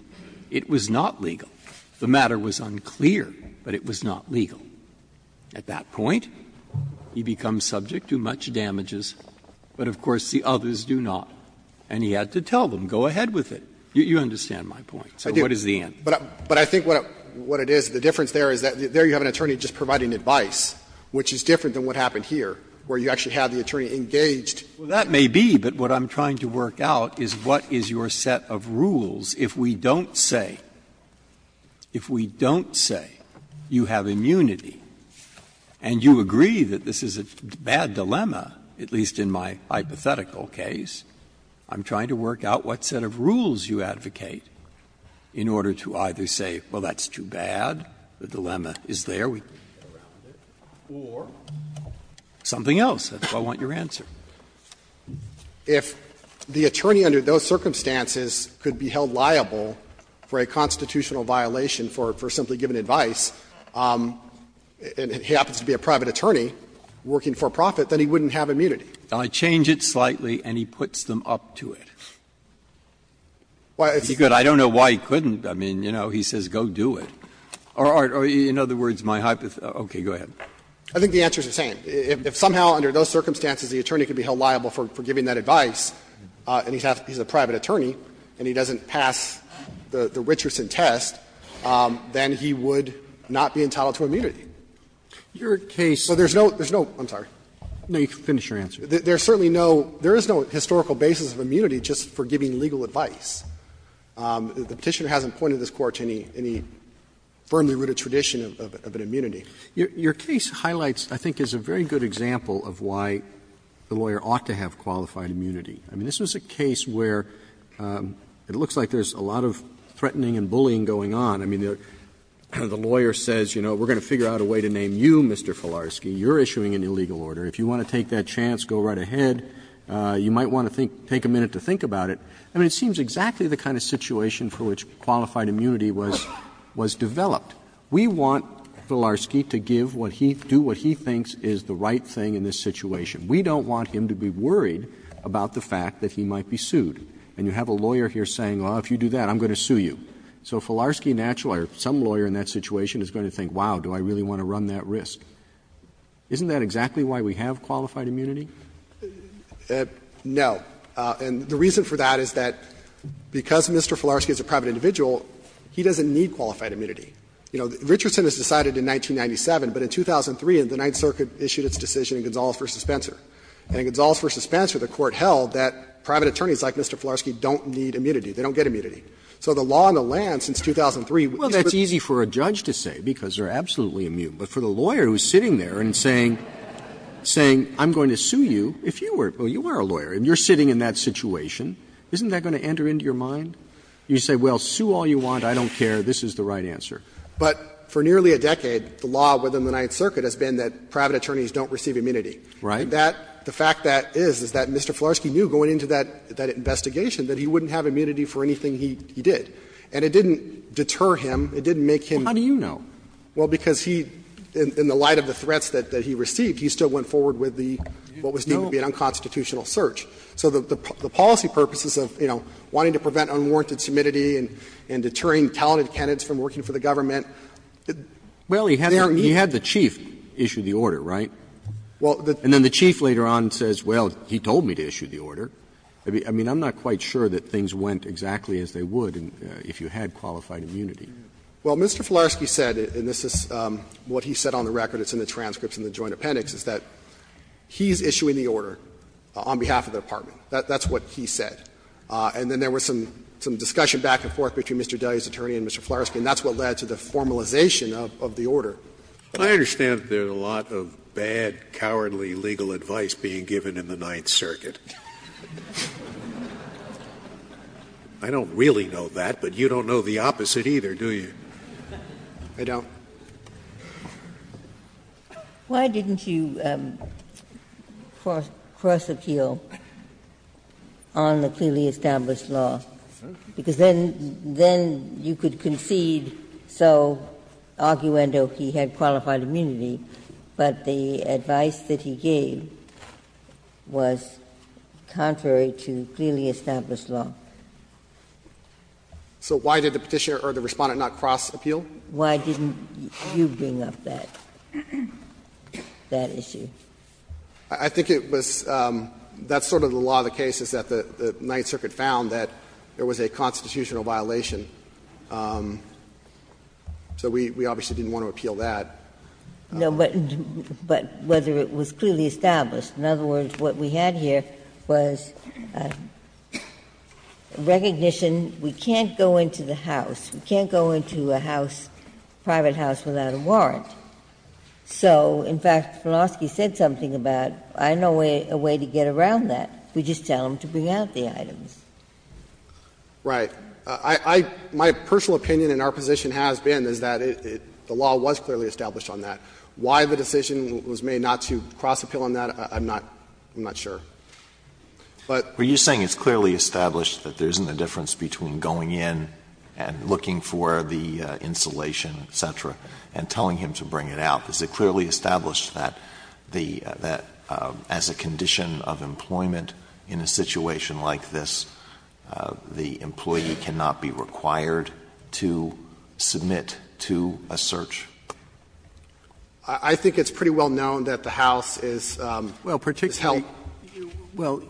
It was not legal. The matter was unclear, but it was not legal. At that point, he becomes subject to much damages, but of course the others do not. And he had to tell them, go ahead with it. You understand my point. So what is the end? But I think what it is, the difference there is that there you have an attorney just providing advice, which is different than what happened here, where you actually have the attorney engaged. Well, that may be, but what I'm trying to work out is what is your set of rules if we don't say, if we don't say you have immunity, and you agree that this is a bad dilemma, at least in my hypothetical case, I'm trying to work out what set of rules you advocate in order to either say, well, that's too bad, the dilemma is there, we can get around it, or something else. That's what I want your answer. If the attorney under those circumstances could be held liable for a constitutional violation for simply giving advice, and he happens to be a private attorney working for profit, then he wouldn't have immunity. Breyer, I change it slightly, and he puts them up to it. I don't know why he couldn't. I mean, you know, he says go do it. Or in other words, my hypothetical, okay, go ahead. I think the answer is the same. If somehow under those circumstances the attorney could be held liable for giving that advice, and he's a private attorney, and he doesn't pass the Richardson test, then he would not be entitled to immunity. Roberts, your case So there's no, there's no, I'm sorry. Roberts, no, you can finish your answer. There's certainly no, there is no historical basis of immunity just for giving legal advice. The Petitioner hasn't pointed this Court to any firmly rooted tradition of an immunity. Your case highlights, I think, is a very good example of why the lawyer ought to have qualified immunity. I mean, this was a case where it looks like there's a lot of threatening and bullying going on. I mean, the lawyer says, you know, we're going to figure out a way to name you, Mr. Filarski. You're issuing an illegal order. If you want to take that chance, go right ahead. You might want to think, take a minute to think about it. I mean, it seems exactly the kind of situation for which qualified immunity was developed. We want Filarski to give what he, do what he thinks is the right thing in this situation. We don't want him to be worried about the fact that he might be sued. And you have a lawyer here saying, well, if you do that, I'm going to sue you. So Filarski, naturally, or some lawyer in that situation is going to think, wow, do I really want to run that risk? Isn't that exactly why we have qualified immunity? No. And the reason for that is that because Mr. Filarski is a private individual, he doesn't need qualified immunity. You know, Richardson has decided in 1997, but in 2003, the Ninth Circuit issued its decision in Gonzales v. Spencer. And in Gonzales v. Spencer, the Court held that private attorneys like Mr. Filarski don't need immunity. They don't get immunity. So the law on the land since 2003 is what's going to be used for that. Roberts. Well, that's easy for a judge to say, because they're absolutely immune. But for the lawyer who's sitting there and saying, I'm going to sue you, if you were a lawyer and you're sitting in that situation, isn't that going to enter into your mind? You say, well, sue all you want. I don't care. This is the right answer. But for nearly a decade, the law within the Ninth Circuit has been that private attorneys don't receive immunity. Right. That the fact that is, is that Mr. Filarski knew going into that investigation that he wouldn't have immunity for anything he did. And it didn't deter him. It didn't make him — Well, how do you know? Well, because he, in the light of the threats that he received, he still went forward with the — what was deemed to be an unconstitutional search. So the policy purposes of, you know, wanting to prevent unwarranted submissivity and deterring talented candidates from working for the government, they're immune. Well, he had the chief issue the order, right? And then the chief later on says, well, he told me to issue the order. I mean, I'm not quite sure that things went exactly as they would if you had qualified immunity. Well, Mr. Filarski said, and this is what he said on the record, it's in the transcripts in the Joint Appendix, is that he's issuing the order on behalf of the Department. That's what he said. And then there was some discussion back and forth between Mr. Daly's attorney and Mr. Filarski, and that's what led to the formalization of the order. Scalia I understand that there's a lot of bad, cowardly legal advice being given in the Ninth Circuit. I don't really know that, but you don't know the opposite either, do you? I don't. Ginsburg Why didn't you cross-appeal on the clearly established law? Because then you could concede, so arguendo, he had qualified immunity, but the advice that he gave was contrary to clearly established law. Filarski So why did the Petitioner or the Respondent not cross-appeal? Why didn't you bring up that issue? I think it was that's sort of the law of the case, is that the Ninth Circuit found that there was a constitutional violation. So we obviously didn't want to appeal that. Ginsburg No, but whether it was clearly established. In other words, what we had here was recognition, we can't go into the House, we can't go into a House, private House, without a warrant. So, in fact, Filarski said something about, I know a way to get around that. We just tell them to bring out the items. Right. I — my personal opinion and our position has been is that it — the law was clearly established on that. Why the decision was made not to cross-appeal on that, I'm not — I'm not sure. But — Alito Were you saying it's clearly established that there isn't a difference between going in and looking for the insulation, et cetera, and telling him to bring it out? Is it clearly established that the — that as a condition of employment in a situation like this, the employee cannot be required to submit to a search? I think it's pretty well known that the House is — is helped. Roberts Well, particularly — well,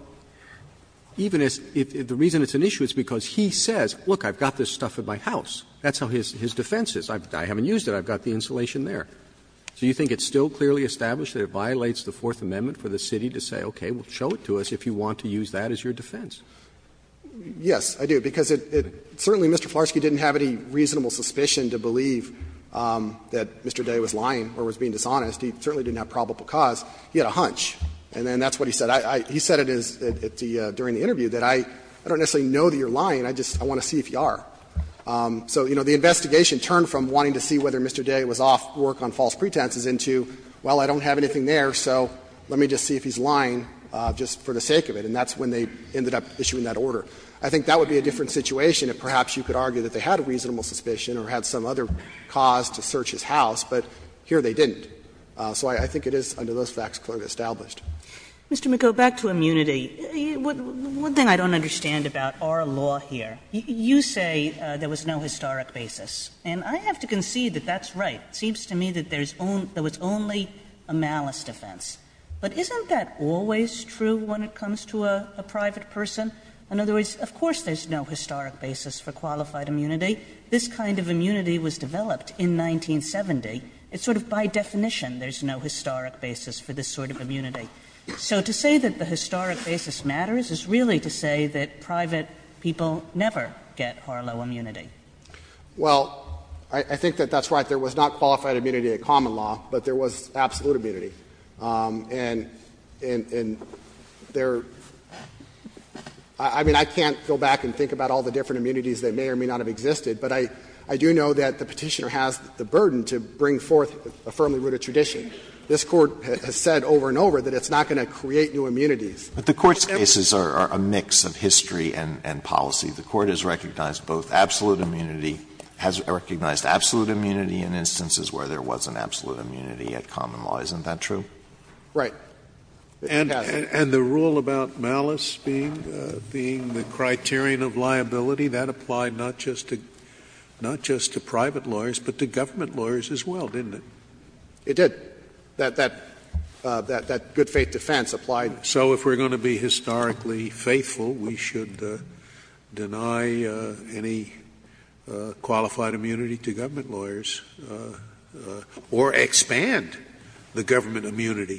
even as — the reason it's an issue is because he says, look, I've got this stuff at my house. That's how his defense is. I haven't used it. I've got the insulation there. So you think it's still clearly established that it violates the Fourth Amendment for the city to say, okay, well, show it to us if you want to use that as your defense? Yes, I do, because it — certainly Mr. Filarski didn't have any reasonable suspicion to believe that Mr. Day was lying or was being dishonest. He certainly didn't have probable cause. He had a hunch, and then that's what he said. He said it during the interview, that I don't necessarily know that you're lying. I just — I want to see if you are. So, you know, the investigation turned from wanting to see whether Mr. Day was off work on false pretenses into, well, I don't have anything there, so let me just see if he's lying just for the sake of it. And that's when they ended up issuing that order. I think that would be a different situation if perhaps you could argue that they had a reasonable suspicion or had some other cause to search his house, but here they didn't. So I think it is, under those facts, clearly established. Kagan, back to immunity. One thing I don't understand about our law here, you say there was no historic basis, and I have to concede that that's right. It seems to me that there's only — there was only a malice defense. But isn't that always true when it comes to a private person? In other words, of course there's no historic basis for qualified immunity. This kind of immunity was developed in 1970. It's sort of by definition there's no historic basis for this sort of immunity. So to say that the historic basis matters is really to say that private people never get Harlow immunity. Well, I think that that's right. There was not qualified immunity at common law, but there was absolute immunity. And there — I mean, I can't go back and think about all the different immunities that may or may not have existed, but I do know that the Petitioner has the burden to bring forth a firmly rooted tradition. This Court has said over and over that it's not going to create new immunities. Alito, but the Court's cases are a mix of history and policy. The Court has recognized both absolute immunity — has recognized absolute immunity in instances where there was an absolute immunity at common law. Isn't that true? Right. And the rule about malice being the criterion of liability, that applied not just to private lawyers, but to government lawyers as well, didn't it? It did. That good faith defense applied. So if we're going to be historically faithful, we should deny any qualified immunity to government lawyers or expand the government immunity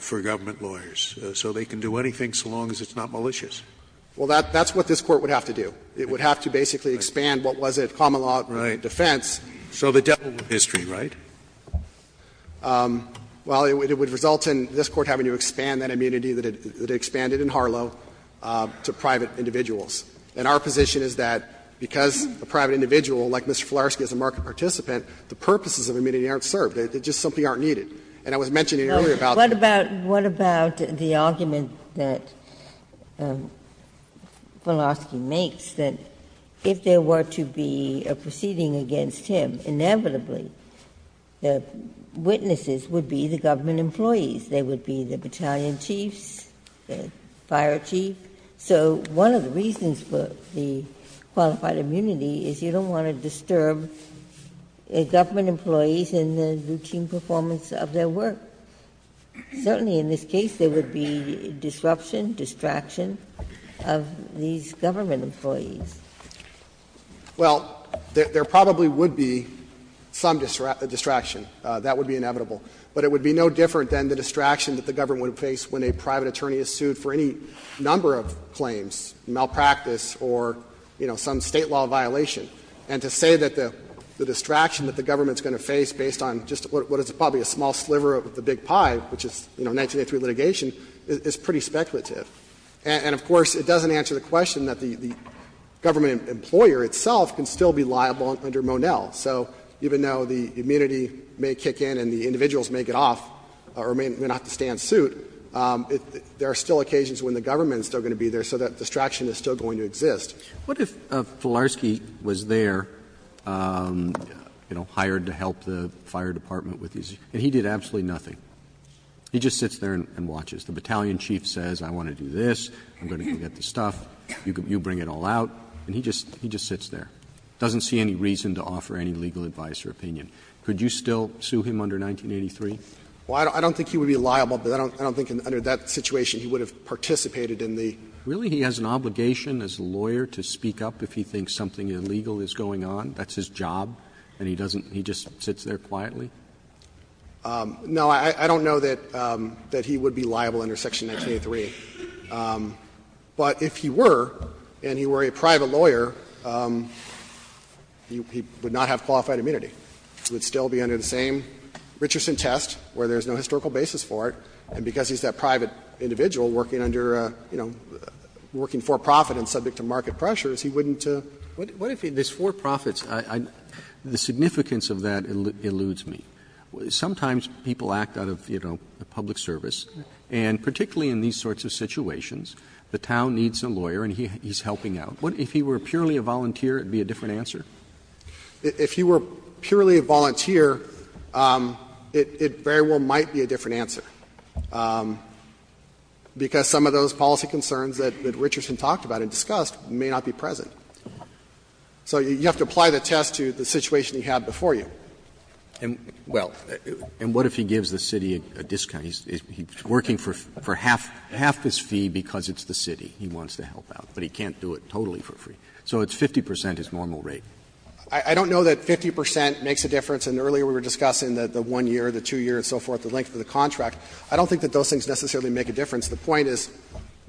for government lawyers so they can do anything so long as it's not malicious. Well, that's what this Court would have to do. It would have to basically expand what was at common law defense. So the devil with history, right? Well, it would result in this Court having to expand that immunity that it expanded in Harlow to private individuals. And our position is that because a private individual, like Mr. Fularski, is a market participant, the purposes of immunity aren't served. They just simply aren't needed. And I was mentioning earlier about the — What about — what about the argument that Fularski makes, that if there were to be a proceeding against him, inevitably the witnesses would be the government employees. They would be the battalion chiefs, the fire chief. So one of the reasons for the qualified immunity is you don't want to disturb government employees in the routine performance of their work. Certainly in this case, there would be disruption, distraction of these government employees. Well, there probably would be some distraction. That would be inevitable. But it would be no different than the distraction that the government would face when a private attorney is sued for any number of claims, malpractice or, you know, some State law violation. And to say that the distraction that the government is going to face based on just what is probably a small sliver of the big pie, which is, you know, 1983 litigation, is pretty speculative. And, of course, it doesn't answer the question that the government employer itself can still be liable under Monell. So even though the immunity may kick in and the individuals may get off or may not have a stand suit, there are still occasions when the government is still going to be there, so that distraction is still going to exist. Roberts. What if Filarski was there, you know, hired to help the fire department with his issues, and he did absolutely nothing? He just sits there and watches. The battalion chief says, I want to do this, I'm going to go get the stuff, you bring it all out, and he just sits there. Doesn't see any reason to offer any legal advice or opinion. Could you still sue him under 1983? Well, I don't think he would be liable, but I don't think under that situation he would have participated in the. Really, he has an obligation as a lawyer to speak up if he thinks something illegal is going on? That's his job, and he doesn't he just sits there quietly? No, I don't know that he would be liable under Section 1983. But if he were, and he were a private lawyer, he would not have qualified immunity. He would still be under the same Richardson test where there's no historical basis for it, and because he's that private individual working under, you know, working for profit and subject to market pressures, he wouldn't. What if he's for profits? The significance of that eludes me. Sometimes people act out of, you know, public service, and particularly in these sorts of situations, the town needs a lawyer and he's helping out. If he were purely a volunteer, it would be a different answer? If he were purely a volunteer, it very well might be a different answer, because some of those policy concerns that Richardson talked about and discussed may not be present. So you have to apply the test to the situation he had before you. And, well, and what if he gives the city a discount? He's working for half his fee because it's the city he wants to help out, but he can't do it totally for free. So it's 50 percent his normal rate. I don't know that 50 percent makes a difference, and earlier we were discussing the one year, the two year, and so forth, the length of the contract. I don't think that those things necessarily make a difference. The point is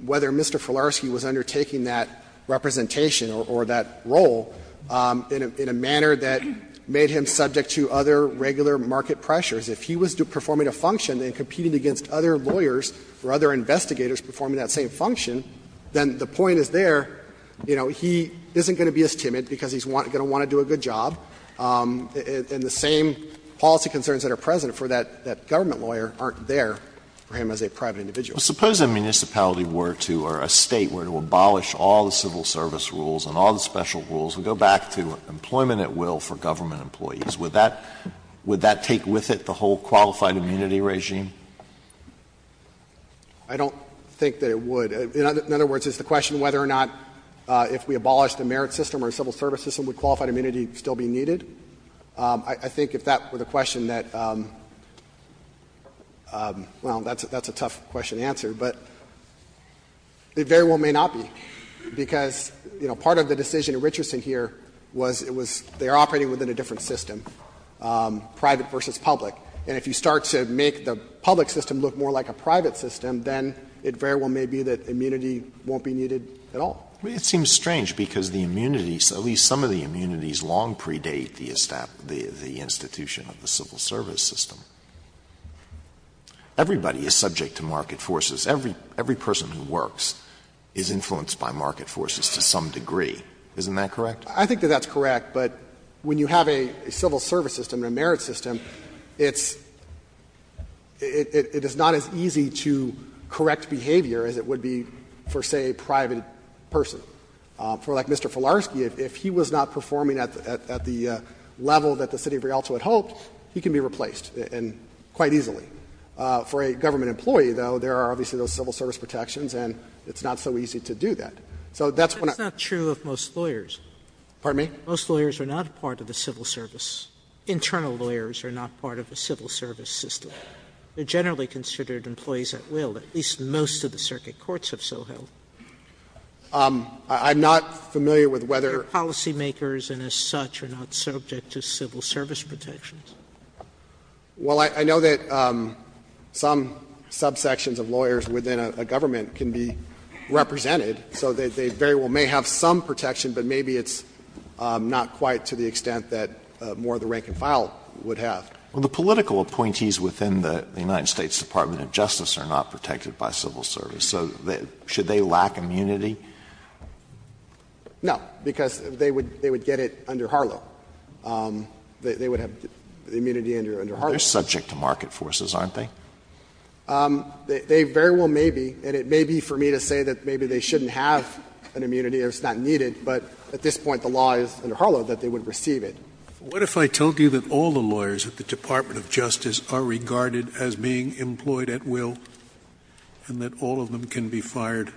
whether Mr. Filarski was undertaking that representation or that role in a manner that made him subject to other regular market pressures. If he was performing a function and competing against other lawyers or other investigators performing that same function, then the point is there, you know, he isn't going to be as timid because he's going to want to do a good job, and the same policy concerns that are present for that government lawyer aren't there for him as a private individual. Alitoson Suppose a municipality were to, or a State were to abolish all the civil service rules and all the special rules and go back to employment at will for government employees. Would that take with it the whole qualified immunity regime? I don't think that it would. In other words, is the question whether or not if we abolish the merit system or civil service system, would qualified immunity still be needed? I think if that were the question that, well, that's a tough question to answer, but it very well may not be, because, you know, part of the decision in Richardson here was it was they're operating within a different system, private versus public. And if you start to make the public system look more like a private system, then it very well may be that immunity won't be needed at all. Alitoson I mean, it seems strange because the immunities, at least some of the immunities long predate the establishment, the institution of the civil service system. Everybody is subject to market forces. Every person who works is influenced by market forces to some degree. Isn't that correct? Fisher I think that that's correct, but when you have a civil service system, a merit system, it's not as easy to correct behavior as it would be for, say, a private person. For, like, Mr. Filarski, if he was not performing at the level that the city of Rialto had hoped, he can be replaced quite easily. For a government employee, though, there are obviously those civil service protections and it's not so easy to do that. So that's what I'm saying. Sotomayor That's not true of most lawyers. Fisher Pardon me? Sotomayor Most lawyers are not part of the civil service. Internal lawyers are not part of the civil service system. They are generally considered employees at will. At least most of the circuit courts have so held. Fisher I'm not familiar with whether Sotomayor They are policy makers and as such are not subject to civil service protections. Fisher Well, I know that some subsections of lawyers within a government can be represented. So they very well may have some protection, but maybe it's not quite to the extent that more of the rank and file would have. Alito Well, the political appointees within the United States Department of Justice are not protected by civil service. So should they lack immunity? Fisher No, because they would get it under Harlow. They would have immunity under Harlow. Alito They're subject to market forces, aren't they? Fisher They very well may be, and it may be for me to say that maybe they shouldn't have an immunity or it's not needed, but at this point the law is under Harlow that they would receive it. Scalia What if I told you that all the lawyers at the Department of Justice are regarded as being employed at will and that all of them can be fired? Fisher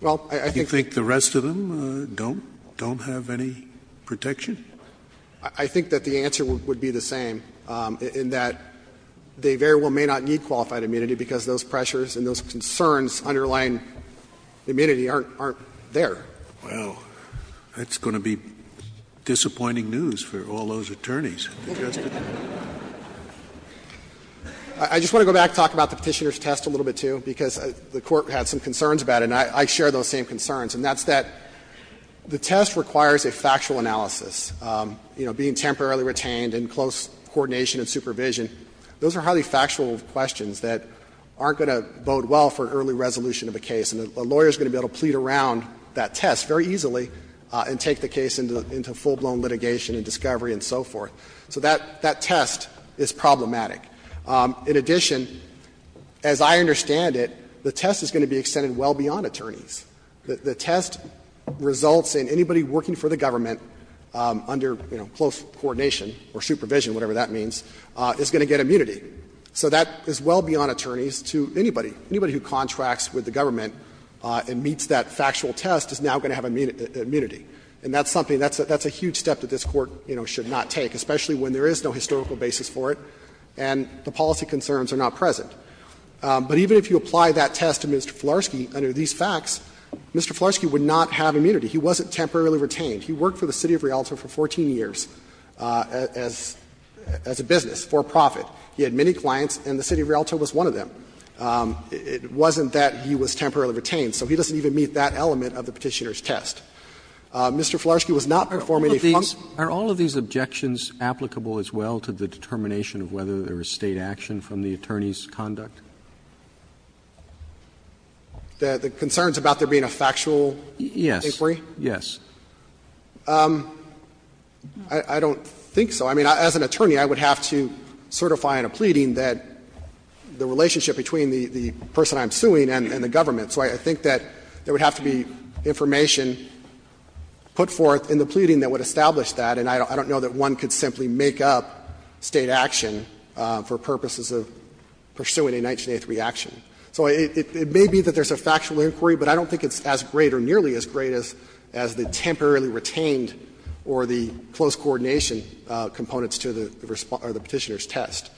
Well, I think Scalia Do you think the rest of them don't have any protection? Fisher I think that the answer would be the same, in that they very well may not need immunity because those pressures and those concerns underlying immunity aren't there. Scalia Well, that's going to be disappointing news for all those attorneys at the Justice Department. Fisher I just want to go back and talk about the Petitioner's Test a little bit, too, because the Court had some concerns about it, and I share those same concerns, and that's that the test requires a factual analysis, you know, being temporarily retained and close coordination and supervision. Those are highly factual questions that aren't going to bode well for an early resolution of a case, and a lawyer is going to be able to plead around that test very easily and take the case into full-blown litigation and discovery and so forth. So that test is problematic. In addition, as I understand it, the test is going to be extended well beyond attorneys. The test results in anybody working for the government under, you know, close coordination or supervision, whatever that means, is going to get immunity. So that is well beyond attorneys to anybody. Anybody who contracts with the government and meets that factual test is now going to have immunity. And that's something that's a huge step that this Court, you know, should not take, especially when there is no historical basis for it and the policy concerns are not present. But even if you apply that test to Mr. Fularski under these facts, Mr. Fularski would not have immunity. He wasn't temporarily retained. He worked for the city of Rialto for 14 years as a business, for-profit. He had many clients, and the city of Rialto was one of them. It wasn't that he was temporarily retained. So he doesn't even meet that element of the Petitioner's Test. Mr. Fularski was not performing any functions. Roberts, are all of these objections applicable as well to the determination of whether there was State action from the attorney's conduct? The concerns about there being a factual inquiry? Yes. I don't think so. I mean, as an attorney, I would have to certify in a pleading that the relationship between the person I'm suing and the government. So I think that there would have to be information put forth in the pleading that would establish that, and I don't know that one could simply make up State action for purposes of pursuing a 1983 action. So it may be that there's a factual inquiry, but I don't think it's as great or nearly as great as the temporarily retained or the close coordination components to the Petitioner's Test.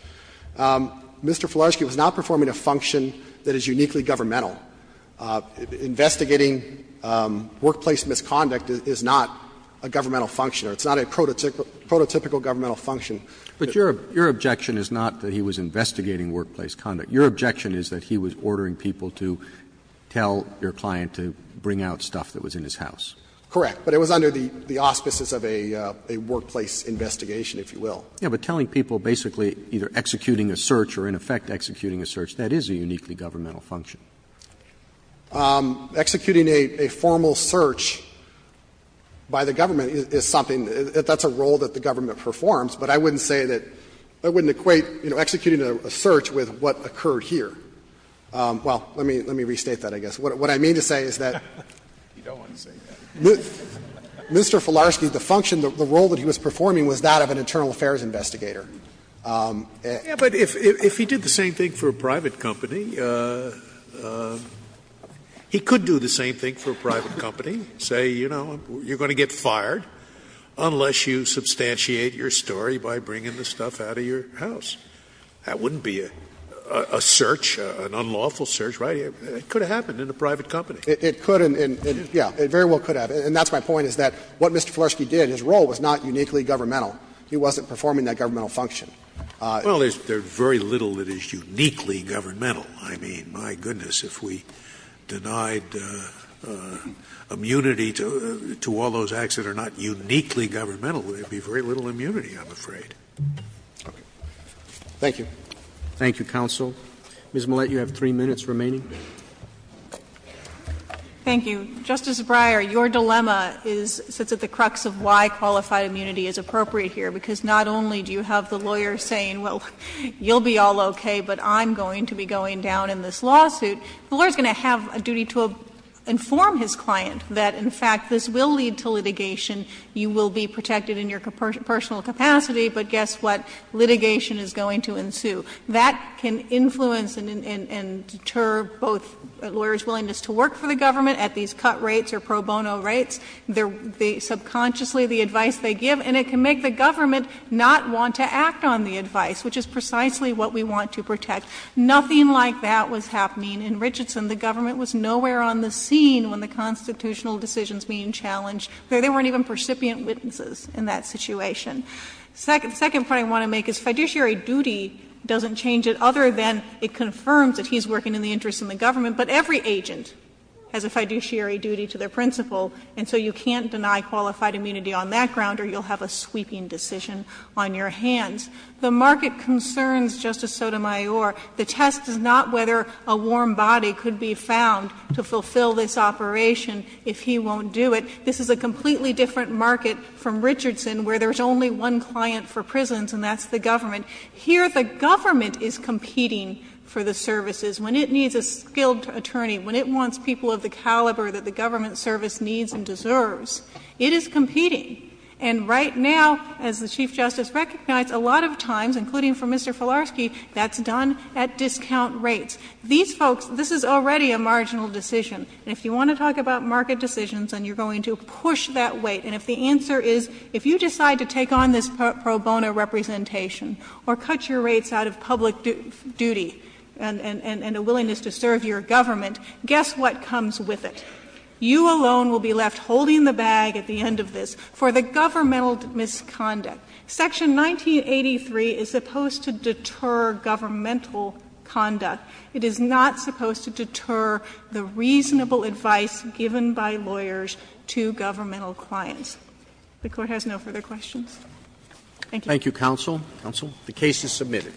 Mr. Fularski was not performing a function that is uniquely governmental. Investigating workplace misconduct is not a governmental function or it's not a prototypical governmental function. But your objection is not that he was investigating workplace conduct. Your objection is that he was ordering people to tell your client to bring out stuff that was in his house. Correct. But it was under the auspices of a workplace investigation, if you will. Yes, but telling people basically either executing a search or in effect executing a search, that is a uniquely governmental function. Executing a formal search by the government is something that's a role that the government performs, but I wouldn't say that that wouldn't equate executing a search with what occurred here. Well, let me restate that, I guess. What I mean to say is that Mr. Fularski, the function, the role that he was performing was that of an internal affairs investigator. But if he did the same thing for a private company, he could do the same thing for a private company, say, you know, you're going to get fired unless you substantiate your story by bringing the stuff out of your house. That wouldn't be a search, an unlawful search, right? It could have happened in a private company. It could and, yeah, it very well could have. And that's my point, is that what Mr. Fularski did, his role was not uniquely governmental. He wasn't performing that governmental function. Well, there's very little that is uniquely governmental. I mean, my goodness, if we denied immunity to all those acts that are not uniquely governmental, there would be very little immunity, I'm afraid. Okay. Thank you. Thank you, counsel. Ms. Millett, you have three minutes remaining. Thank you. Justice Breyer, your dilemma is at the crux of why qualified immunity is appropriate here, because not only do you have the lawyer saying, well, you'll be all okay, but I'm going to be going down in this lawsuit. The lawyer is going to have a duty to inform his client that, in fact, this will lead to litigation, you will be protected in your personal capacity, but guess what, litigation is going to ensue. That can influence and deter both a lawyer's willingness to work for the government at these cut rates or pro bono rates, subconsciously the advice they give, and it can make the government not want to act on the advice, which is precisely what we want to protect. Nothing like that was happening in Richardson. The government was nowhere on the scene when the constitutional decisions being challenged. There weren't even percipient witnesses in that situation. The second point I want to make is fiduciary duty doesn't change it other than it confirms that he's working in the interest of the government, but every agent has a fiduciary duty to their principal, and so you can't deny qualified immunity on that ground or you'll have a sweeping decision on your hands. The market concerns, Justice Sotomayor, the test is not whether a warm body could be found to fulfill this operation if he won't do it. This is a completely different market from Richardson where there's only one client for prisons and that's the government. Here the government is competing for the services. When it needs a skilled attorney, when it wants people of the caliber that the government service needs and deserves, it is competing. And right now, as the Chief Justice recognized, a lot of times, including for Mr. Filarski, that's done at discount rates. These folks, this is already a marginal decision. And if you want to talk about market decisions, then you're going to push that weight. And if the answer is, if you decide to take on this pro bono representation or cut your rates out of public duty and a willingness to serve your government, guess what comes with it? You alone will be left holding the bag at the end of this for the governmental misconduct. Section 1983 is supposed to deter governmental conduct. It is not supposed to deter the reasonable advice given by lawyers to governmental clients. The court has no further questions. Thank you. Thank you, counsel. Counsel, the case is submitted.